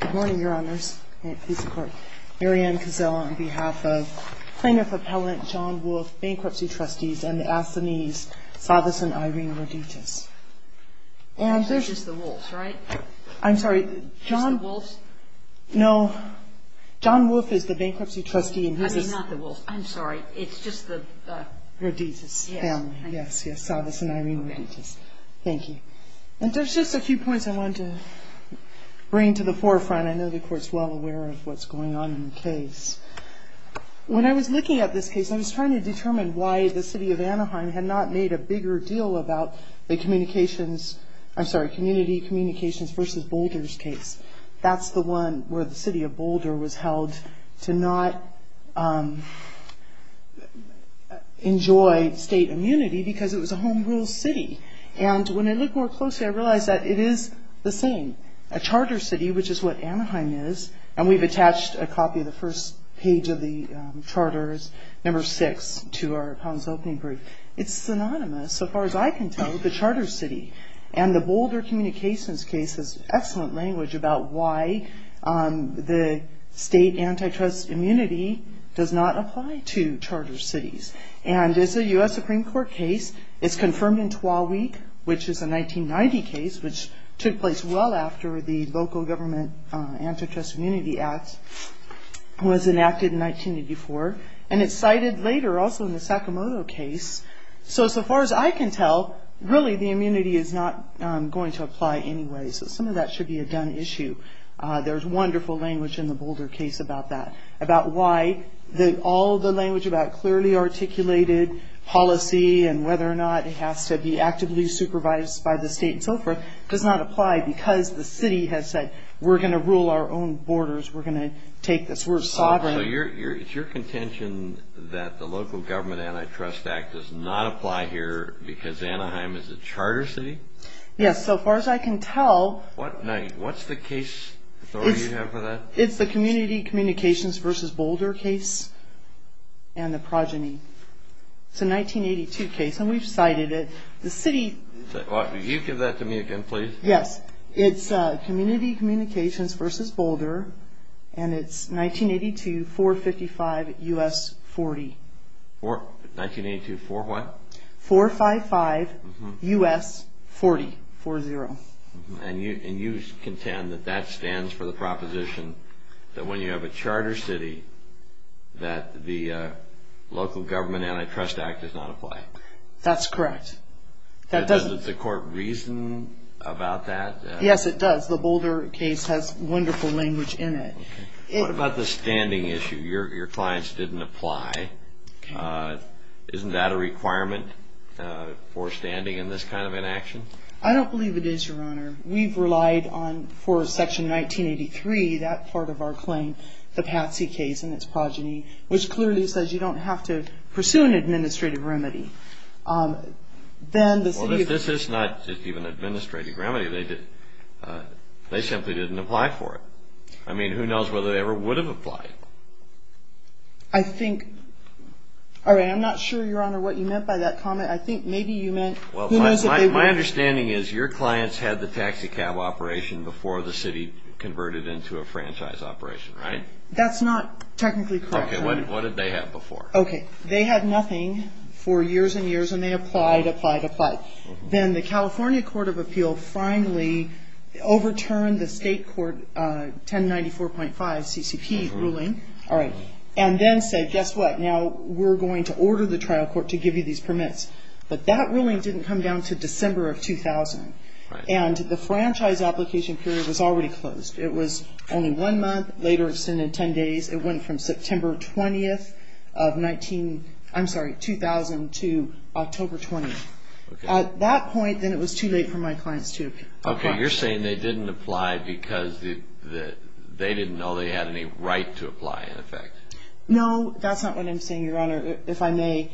Good morning, Your Honors. Mary Ann Cozella on behalf of plaintiff appellant John Wolfe, Bankruptcy Trustees, and the Athenese, Savvas and Irene Roditas. It's just the Wolfes, right? I'm sorry, John Wolfe is the Bankruptcy Trustee. I mean, not the Wolfes, I'm sorry, it's just the... Roditas family, yes, Savvas and Irene Roditas. Thank you. And there's just a few points I wanted to bring to the forefront. I know the Court's well aware of what's going on in the case. When I was looking at this case, I was trying to determine why the City of Anaheim had not made a bigger deal about the Communications, I'm sorry, Community Communications v. Boulders case. That's the one where the City of Boulder was held to not enjoy state immunity because it was a Home Rule City. And when I look more closely, I realize that it is the same. A Charter City, which is what Anaheim is, and we've attached a copy of the first page of the Charter, number 6, to our appellant's opening brief. It's synonymous, so far as I can tell, with the Charter City. And the Boulder Communications case has excellent language about why the state antitrust immunity does not apply to Charter Cities. And it's a U.S. Supreme Court case. It's confirmed in TWAWI, which is a 1990 case, which took place well after the Local Government Antitrust Immunity Act was enacted in 1984. And it's cited later, also in the Sakamoto case. So, so far as I can tell, really the immunity is not going to apply anyway. So some of that should be a done issue. There's wonderful language in the Boulder case about that. About why all the language about clearly articulated policy and whether or not it has to be actively supervised by the state and so forth does not apply because the city has said, we're going to rule our own borders, we're going to take this, we're sovereign. So it's your contention that the Local Government Antitrust Act does not apply here because Anaheim is a Charter City? Yes, so far as I can tell. Now, what's the case authority you have for that? It's the Community Communications v. Boulder case and the progeny. It's a 1982 case, and we've cited it. The city... Could you give that to me again, please? Yes, it's Community Communications v. Boulder, and it's 1982, 455 U.S. 40. 1982, 4 what? 455 U.S. 40, 4-0. And you contend that that stands for the proposition that when you have a Charter City, that the Local Government Antitrust Act does not apply? That's correct. Does the court reason about that? Yes, it does. The Boulder case has wonderful language in it. What about the standing issue? Your clients didn't apply. Isn't that a requirement for standing in this kind of an action? I don't believe it is, Your Honor. We've relied on, for Section 1983, that part of our claim, the Patsy case and its progeny, which clearly says you don't have to pursue an administrative remedy. Then the city... Well, this is not just even an administrative remedy. They simply didn't apply for it. I mean, who knows whether they ever would have applied? I think... All right, I'm not sure, Your Honor, what you meant by that comment. I think maybe you meant... My understanding is your clients had the taxicab operation before the city converted into a franchise operation, right? That's not technically correct, Your Honor. Okay, what did they have before? Okay, they had nothing for years and years, and they applied, applied, applied. Then the California Court of Appeal finally overturned the state court 1094.5 CCP ruling, and then said, guess what, now we're going to order the trial court to give you these permits. But that ruling didn't come down to December of 2000. And the franchise application period was already closed. It was only one month, later extended 10 days. It went from September 20th of 19... I'm sorry, 2000 to October 20th. At that point, then it was too late for my clients to apply. Okay, you're saying they didn't apply because they didn't know they had any right to apply, in effect. No, that's not what I'm saying, Your Honor, if I may.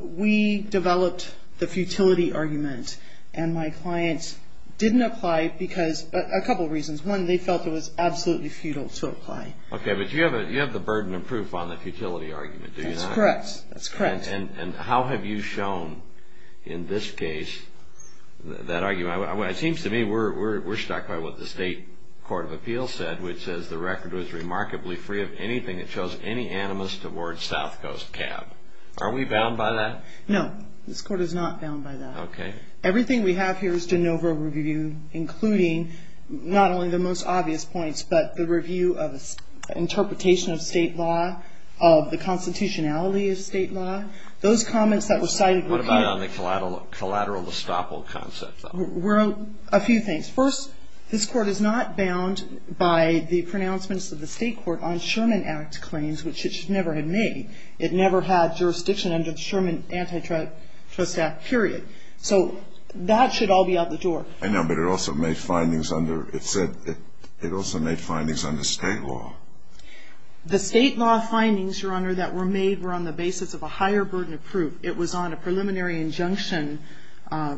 We developed the futility argument, and my clients didn't apply because... a couple of reasons. One, they felt it was absolutely futile to apply. Okay, but you have the burden of proof on the futility argument, do you not? That's correct, that's correct. And how have you shown, in this case, that argument? It seems to me we're stuck by what the state court of appeal said, which says the record was remarkably free of anything that shows any animus towards South Coast cab. Are we bound by that? No, this court is not bound by that. Okay. Everything we have here is de novo review, including not only the most obvious points, but the review of interpretation of state law, of the constitutionality of state law. Those comments that were cited... What about on the collateral estoppel concept, though? Well, a few things. First, this court is not bound by the pronouncements of the state court on Sherman Act claims, which it never had made. It never had jurisdiction under the Sherman Antitrust Act, period. So that should all be out the door. I know, but it also made findings under... It said it also made findings under state law. The state law findings, Your Honor, that were made were on the basis of a higher burden of proof. It was on a preliminary injunction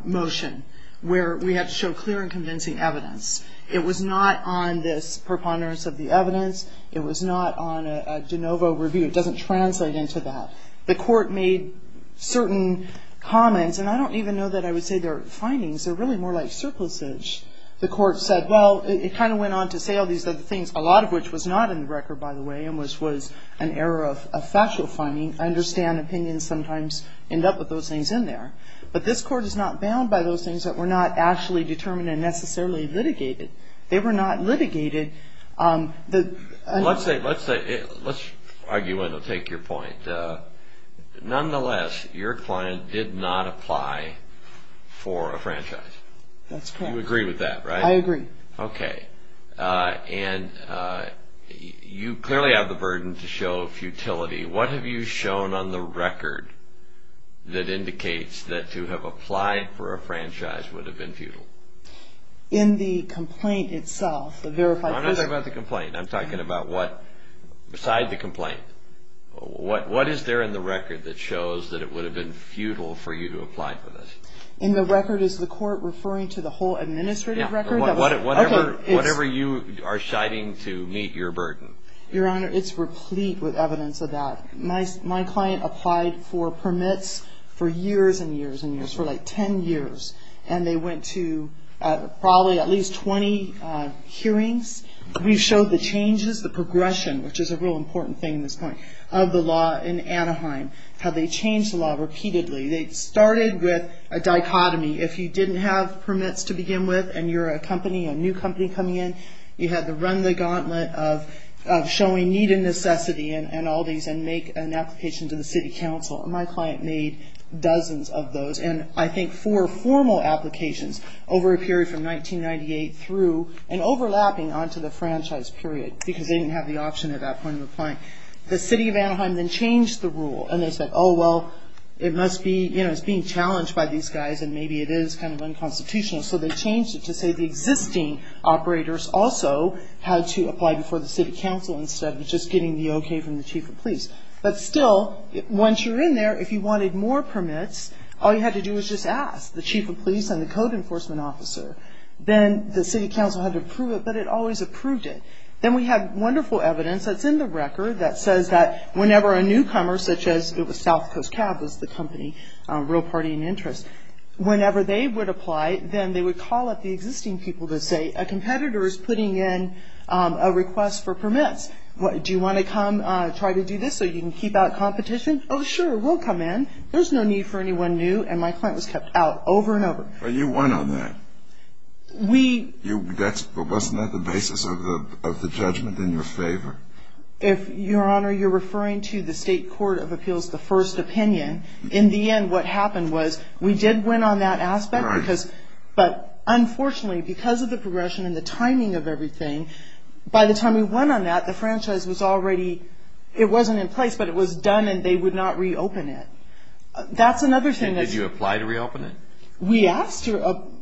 motion where we had to show clear and convincing evidence. It was not on this preponderance of the evidence. It was not on a de novo review. It doesn't translate into that. The court made certain comments, and I don't even know that I would say they're findings. They're really more like surpluses. The court said, well, it kind of went on to say all these other things, a lot of which was not in the record, by the way, and which was an error of factual finding. I understand opinions sometimes end up with those things in there. But this court is not bound by those things that were not actually determined and necessarily litigated. They were not litigated. Let's argue and I'll take your point. Nonetheless, your client did not apply for a franchise. That's correct. You agree with that, right? I agree. Okay. You clearly have the burden to show futility. What have you shown on the record that indicates that to have applied for a franchise would have been futile? In the complaint itself, I'm not talking about the complaint. I'm talking about beside the complaint. What is there in the record that shows that it would have been futile for you to apply for this? In the record, is the court referring to the whole administrative record? Whatever you are citing to meet your burden. Your Honor, it's replete with evidence of that. My client applied for permits for years and years and years, for like 10 years, and they went to probably at least 20 hearings. We showed the changes, the progression, which is a real important thing at this point, of the law in Anaheim. How they changed the law repeatedly. They started with a dichotomy. If you didn't have permits to begin with and you're a company, a new company coming in, you had to run the gauntlet of showing need and necessity and all these and make an application to the city council. My client made dozens of those. I think four formal applications over a period from 1998 through and overlapping onto the franchise period because they didn't have the option at that point of applying. The city of Anaheim then changed the rule and they said, oh well, it's being challenged by these guys and maybe it is kind of unconstitutional so they changed it to say the existing operators also had to apply before the city council instead of just getting the okay from the chief of police. But still, once you're in there, if you wanted more permits, all you had to do was just ask the chief of police and the code enforcement officer. Then the city council had to approve it but it always approved it. Then we have wonderful evidence that's in the record that says that whenever a newcomer such as South Coast Cab was the company, a real party in interest, whenever they would apply then they would call up the existing people to say a competitor is putting in a request for permits. Do you want to come try to do this so you can keep out competition? Oh sure, we'll come in. There's no need for anyone new and my client was kept out over and over. But you won on that. Wasn't that the basis of the judgment in your favor? Your Honor, you're referring to the state court of appeals, the first opinion. In the end, what happened was we did win on that aspect but unfortunately, because of the progression and the timing of everything, by the time we won on that the franchise was already it wasn't in place, but it was done and they would not reopen it. Did you apply to reopen it? We asked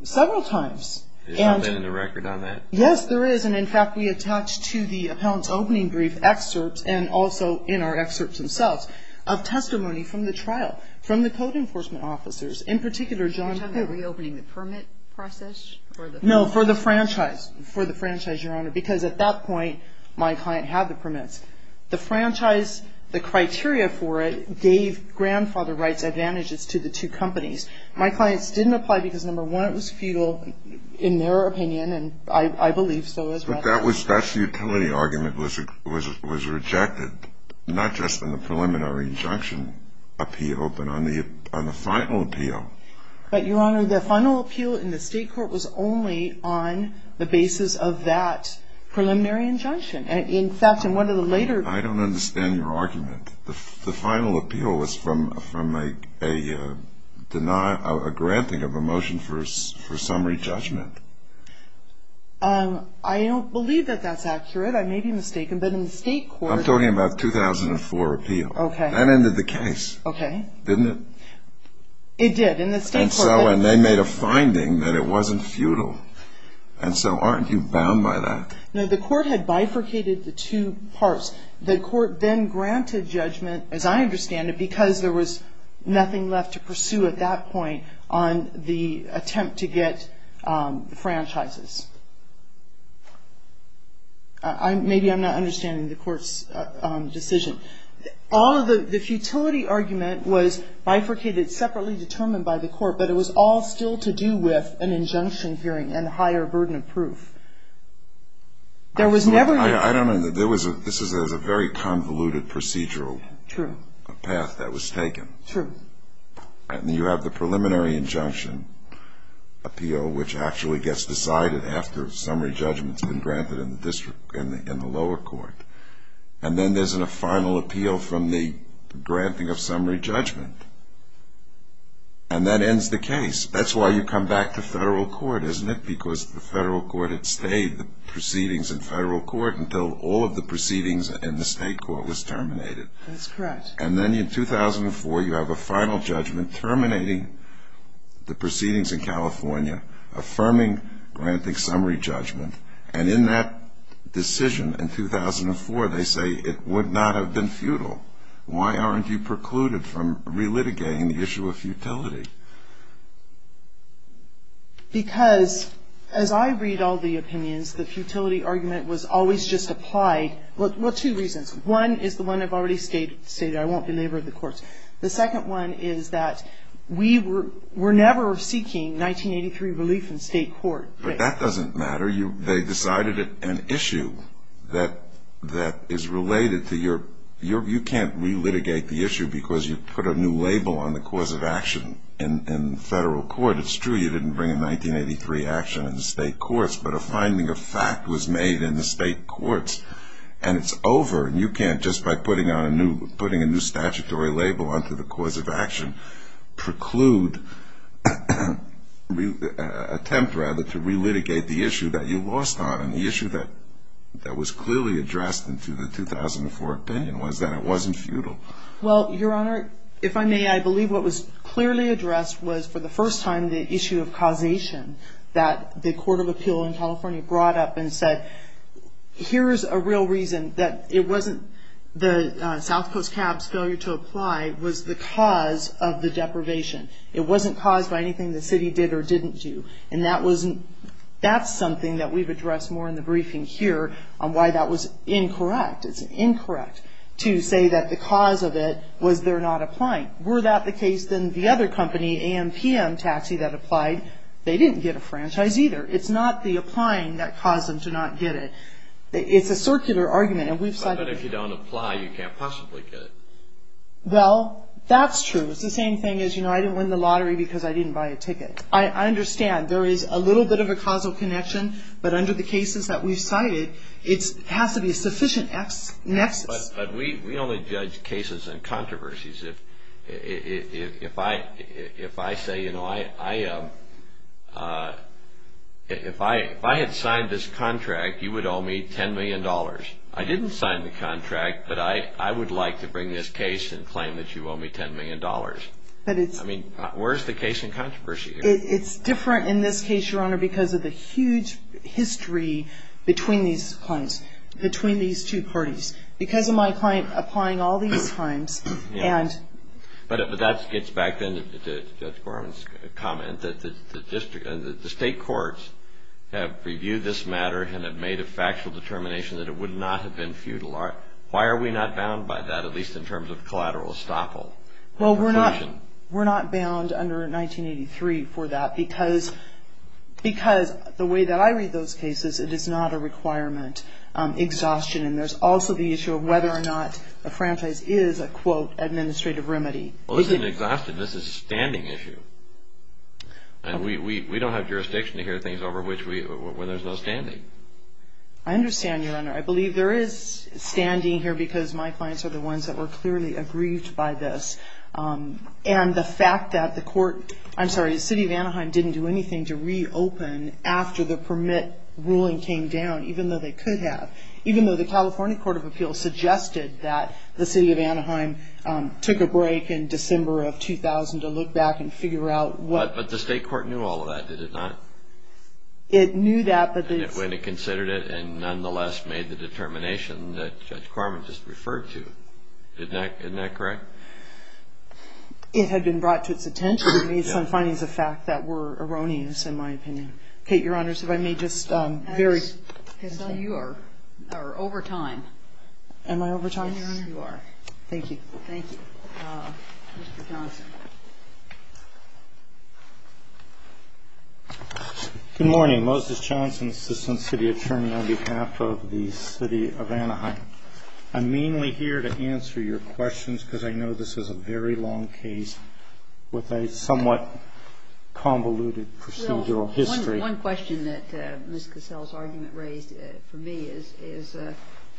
several times. Is there something in the record on that? Yes, there is. In fact, we attached to the appellant's opening brief excerpts and also in our excerpts themselves of testimony from the trial from the code enforcement officers in particular John. Are you talking about reopening the permit process? No, for the franchise. Because at that point my client had the permits. The franchise, the criteria for it gave grandfather rights advantages to the two companies. My clients didn't apply because number one, it was futile in their opinion and I believe so as well. But that utility argument was rejected not just in the preliminary injunction appeal, but on the final appeal. But Your Honor, the final appeal in the state court was only on the basis of that preliminary injunction. In fact, in one of the later... I don't understand your argument. The final appeal was from a granting of a motion for summary judgment. I don't believe that that's accurate. I may be mistaken, but in the state court... I'm talking about 2004 appeal. That ended the case, didn't it? It did. And so they made a finding that it wasn't futile. And so aren't you bound by that? No, the court had bifurcated the two parts. The court then granted judgment, as I understand it, because there was nothing left to pursue at that point on the attempt to get franchises. Maybe I'm not understanding the court's decision. The futility argument was bifurcated separately determined by the court, but it was all still to do with an injunction hearing and a higher burden of proof. There was never... This is a very convoluted procedural path that was taken. True. And you have the preliminary injunction appeal, which actually gets decided after summary judgment has been granted in the lower court. And then there's a final appeal from the and that ends the case. That's why you come back to federal court, isn't it? Because the federal court had stayed the proceedings in federal court until all of the proceedings in the state court was terminated. That's correct. And then in 2004 you have a final judgment terminating the proceedings in California, affirming granting summary judgment. And in that decision in 2004 they say it would not have been futile. Why aren't you precluded from relitigating the issue of futility? Because as I read all the opinions, the futility argument was always just applied. Well, two reasons. One is the one I've already stated. I won't belabor the courts. The second one is that we were never seeking 1983 relief in state court. But that doesn't matter. They decided an issue that is related to your... You can't put a new label on the cause of action in federal court. It's true you didn't bring a 1983 action in the state courts, but a finding of fact was made in the state courts. And it's over. You can't, just by putting a new statutory label onto the cause of action, preclude attempt, rather, to relitigate the issue that you lost on and the issue that was clearly addressed in the 2004 opinion was that it wasn't futile. Well, Your Honor, if I may, I believe what was clearly addressed was, for the first time, the issue of causation that the Court of Appeal in California brought up and said, here's a real reason that it wasn't the South Coast CAB's failure to apply was the cause of the deprivation. It wasn't caused by anything the city did or didn't do. And that's something that we've addressed more in the briefing here on why that was incorrect. It's incorrect to say that the cause of it was they're not applying. Were that the case, then, the other company, AMPM Taxi, that applied, they didn't get a franchise either. It's not the applying that caused them to not get it. It's a circular argument, and we've cited it. But if you don't apply, you can't possibly get it. Well, that's true. It's the same thing as, you know, I didn't win the lottery because I didn't buy a ticket. I understand. There is a little bit of a causal connection, but under the cases that we've cited, it has to be a sufficient nexus. But we only judge cases in controversies. If I say, you know, if I had signed this contract, you would owe me $10 million. I didn't sign the contract, but I would like to bring this case and claim that you owe me $10 million. I mean, where's the case in controversy here? It's different in this case, Your Honor, because of the huge history between these clients, between these two parties. Because of my client applying all these times, and But that gets back then to Judge Gorman's comment that the state courts have reviewed this matter and have made a factual determination that it would not have been futile. Why are we not bound by that, at least in terms of collateral estoppel? Well, we're not bound under 1983 for that, because the way that I read those cases, it is not a requirement. Exhaustion. And there's also the issue of whether or not a franchise is a, quote, administrative remedy. Well, this isn't exhaustion. This is a standing issue. And we don't have jurisdiction to hear things over which there's no standing. I understand, Your Honor. I believe there is standing here because my clients are the ones that were clearly aggrieved by this. And the fact that the court, I'm sorry, the city of Anaheim didn't do anything to reopen after the permit ruling came down, even though they could have. Even though the California Court of Appeals suggested that the city of Anaheim took a break in December of 2000 to look back and figure out what... But the state court knew all of that, did it not? It knew that, but... When it considered it and nonetheless made the determination that Judge Gorman just referred to. Isn't that correct? It had been brought to its attention. It made some findings of fact that were erroneous in my opinion. Kate, Your Honor, if I may just... So you are over time. Am I over time? Yes, you are. Thank you. Good morning. Moses Johnson, Assistant City Attorney on behalf of the city of Anaheim. I'm mainly here to answer your questions because I know this is a very long case with a somewhat convoluted procedural history. One question that Ms. Cassell's argument raised for me is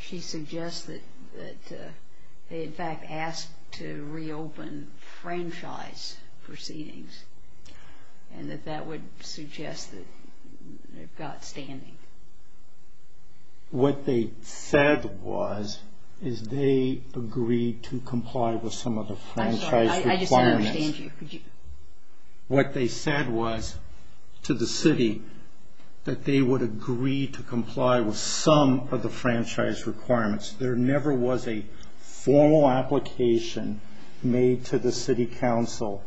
she suggests that they in fact asked to reopen franchise proceedings and that that would suggest that they've got standing. What they said was is they agreed to comply with some of the franchise requirements. What they said was to the city that they would agree to comply with some of the franchise requirements. There never was a formal application made to the city council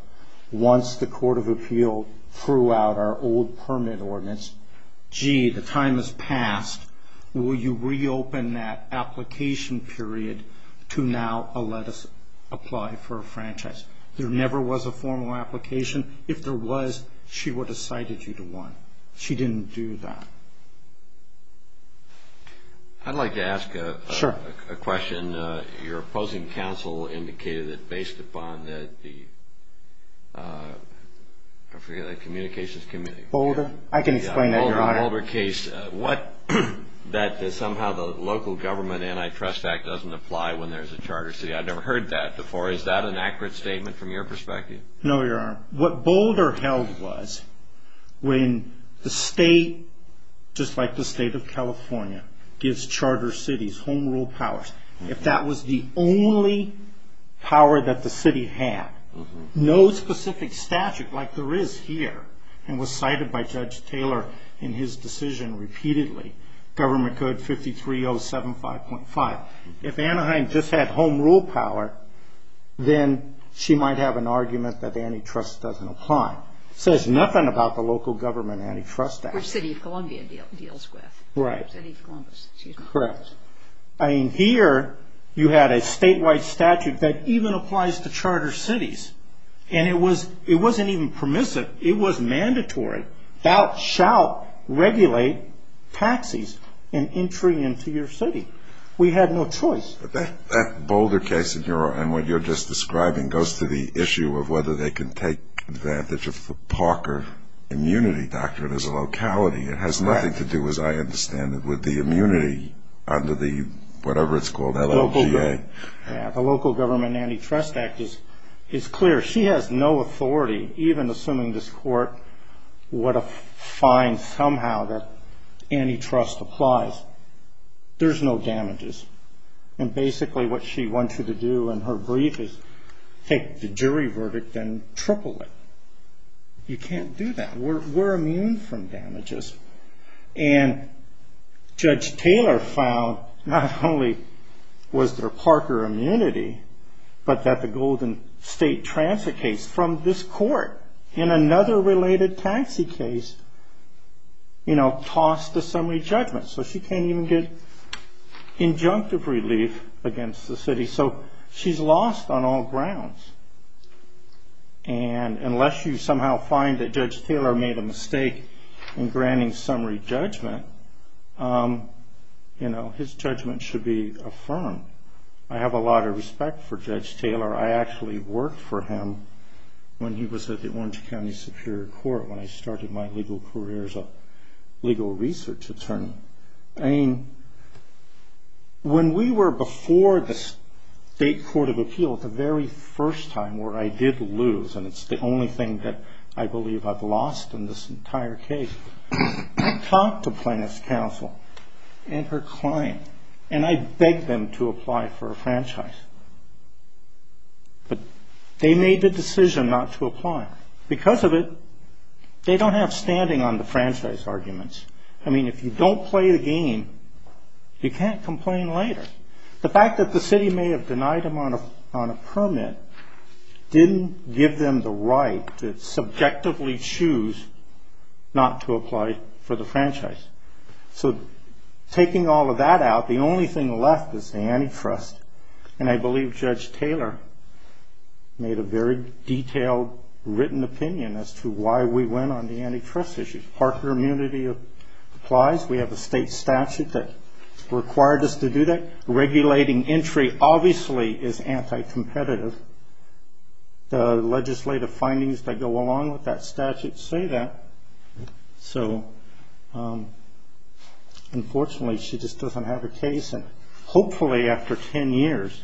once the Court of Appeal threw out our old permit ordinance. Gee, the time has passed. Will you reopen that application period to now let us apply for a franchise? There never was a formal application. If there was, she would have cited you to one. She didn't do that. I'd like to ask a question. Your opposing counsel indicated that based upon the communications committee... I can explain that, Your Honor. In the Boulder case, that somehow the local government antitrust act doesn't apply when there's a charter city. I've never heard that before. Is that an accurate statement from your perspective? No, Your Honor. What Boulder held was when the state, just like the state of California, gives charter cities home rule powers, if that was the only power that the city had, no specific statute like there is here and was cited by Judge Taylor in his decision repeatedly, government code 53075.5, if Anaheim just had home rule power, then she might have an argument that antitrust doesn't apply. It says nothing about the local government antitrust act. The city of Columbus. Correct. Here, you had a statewide statute that even applies to charter cities. It wasn't even permissive. It was mandatory. Thou shalt regulate taxis in entry into your city. We had no choice. That Boulder case and what you're just describing goes to the issue of whether they can take advantage of the Parker immunity doctrine as a locality. It has nothing to do, as I understand it, with the immunity under the, whatever it's called, LOGA. The local government antitrust act is clear. She has no authority, even assuming this court would find somehow that antitrust applies. There's no damages. And basically what she wants you to do in her brief is take the jury verdict and triple it. You can't do that. We're immune from damages. And Judge Taylor found not only was there Parker immunity, but that the Golden State Transfer case from this court in another related taxi case tossed a summary judgment. So she can't even get injunctive relief against the city. She's lost on all grounds. Unless you somehow find that Judge Taylor made a mistake in granting summary judgment, you know, his judgment should be affirmed. I have a lot of respect for Judge Taylor. I actually worked for him when he was at the Orange County Superior Court, when I started my legal career as a legal research attorney. I mean, when we were before the State Court of Appeal, the very first time where I did lose, and it's the only thing that I believe I've lost in this entire case, I talked to Plaintiff's Counsel and her client, and I begged them to apply for a franchise. But they made the decision not to apply. Because of it, they don't have standing on the franchise arguments. I mean, if you don't play the game, you can't complain later. The fact that the city may have denied them on a permit didn't give them the right to subjectively choose not to apply for the franchise. So, taking all of that out, the only thing left is the antitrust. And I believe Judge Taylor made a very detailed, written opinion as to why we went on the antitrust issue. Parker immunity applies. We have a state statute that required us to do that. Regulating entry obviously is anti-competitive. The legislative findings that go along with that statute say that. So, unfortunately, she just doesn't have a case, and hopefully after 10 years,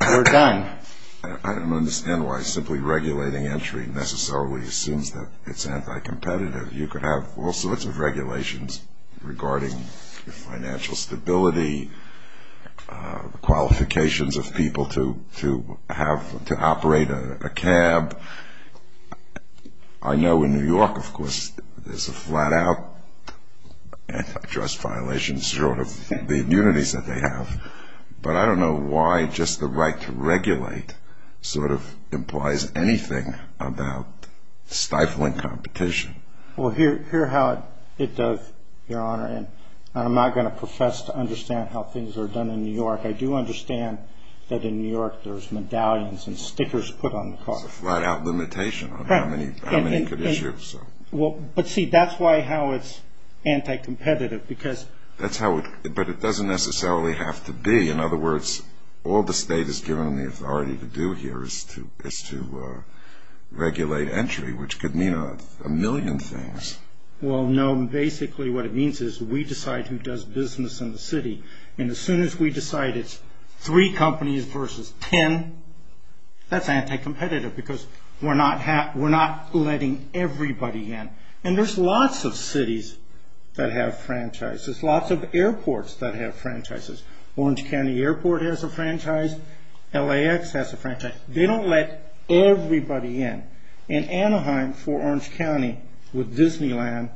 we're done. I don't understand why simply regulating entry necessarily assumes that it's anti-competitive. You could have all sorts of regulations regarding financial stability, qualifications of people to have to operate a cab. I know in New York, of course, there's a flat-out antitrust violation, short of the immunities that they have. But I don't know why just the right to regulate implies anything about stifling competition. Well, here's how it does, Your Honor, and I'm not going to profess to understand how things are done in New York. I do understand that in New York there's medallions and stickers put on the car. It's a flat-out limitation on how many could issue. But see, that's how it's anti-competitive. But it doesn't necessarily have to be. In other words, all the state has given them the authority to do here is to regulate entry, which could mean a million things. Well, no, basically what it means is we decide who does business in the city, and as soon as we decide it's three companies versus ten, that's anti-competitive because we're not letting everybody in. And there's lots of cities that have franchises, lots of airports that have franchises. Orange County Airport has a franchise. LAX has a franchise. They don't let everybody in. In Anaheim, for Orange County, with Disneyland,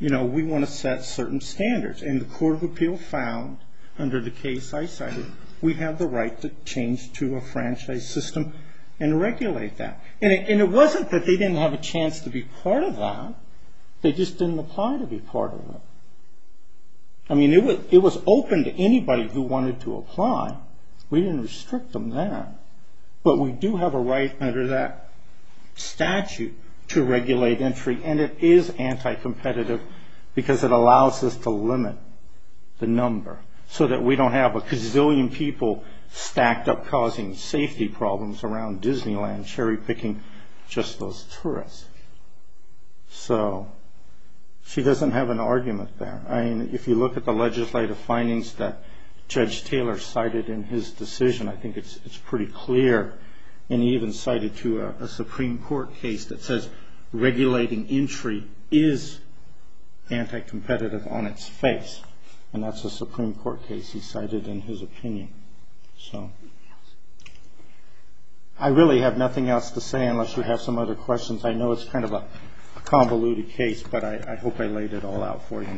we want to set certain standards, and the Court of Appeal found under the case I cited, we have the right to change to a franchise system and regulate that. And it wasn't that they didn't have a chance to be part of that. They just didn't apply to be part of it. I mean, it was open to anybody who wanted to apply. We didn't restrict them then. But we do have a right under that statute to regulate entry, and it is anti-competitive because it allows us to limit the number so that we don't have a gazillion people stacked up causing safety problems around Disneyland cherry-picking just those tourists. So she doesn't have an argument there. I mean, if you look at the legislative findings that Judge Taylor cited in his decision, I think it's pretty clear, and he even cited to a Supreme Court case that says regulating entry is anti-competitive on its face. And that's a Supreme Court case he cited in his opinion. So I really have nothing else to say unless you have some other questions. I know it's kind of a convoluted case, but I hope I laid it all out for you.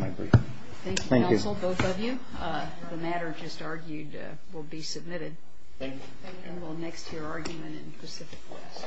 Thank you. The matter just argued will be submitted. And we'll next to your argument in Pacific West. Thank you.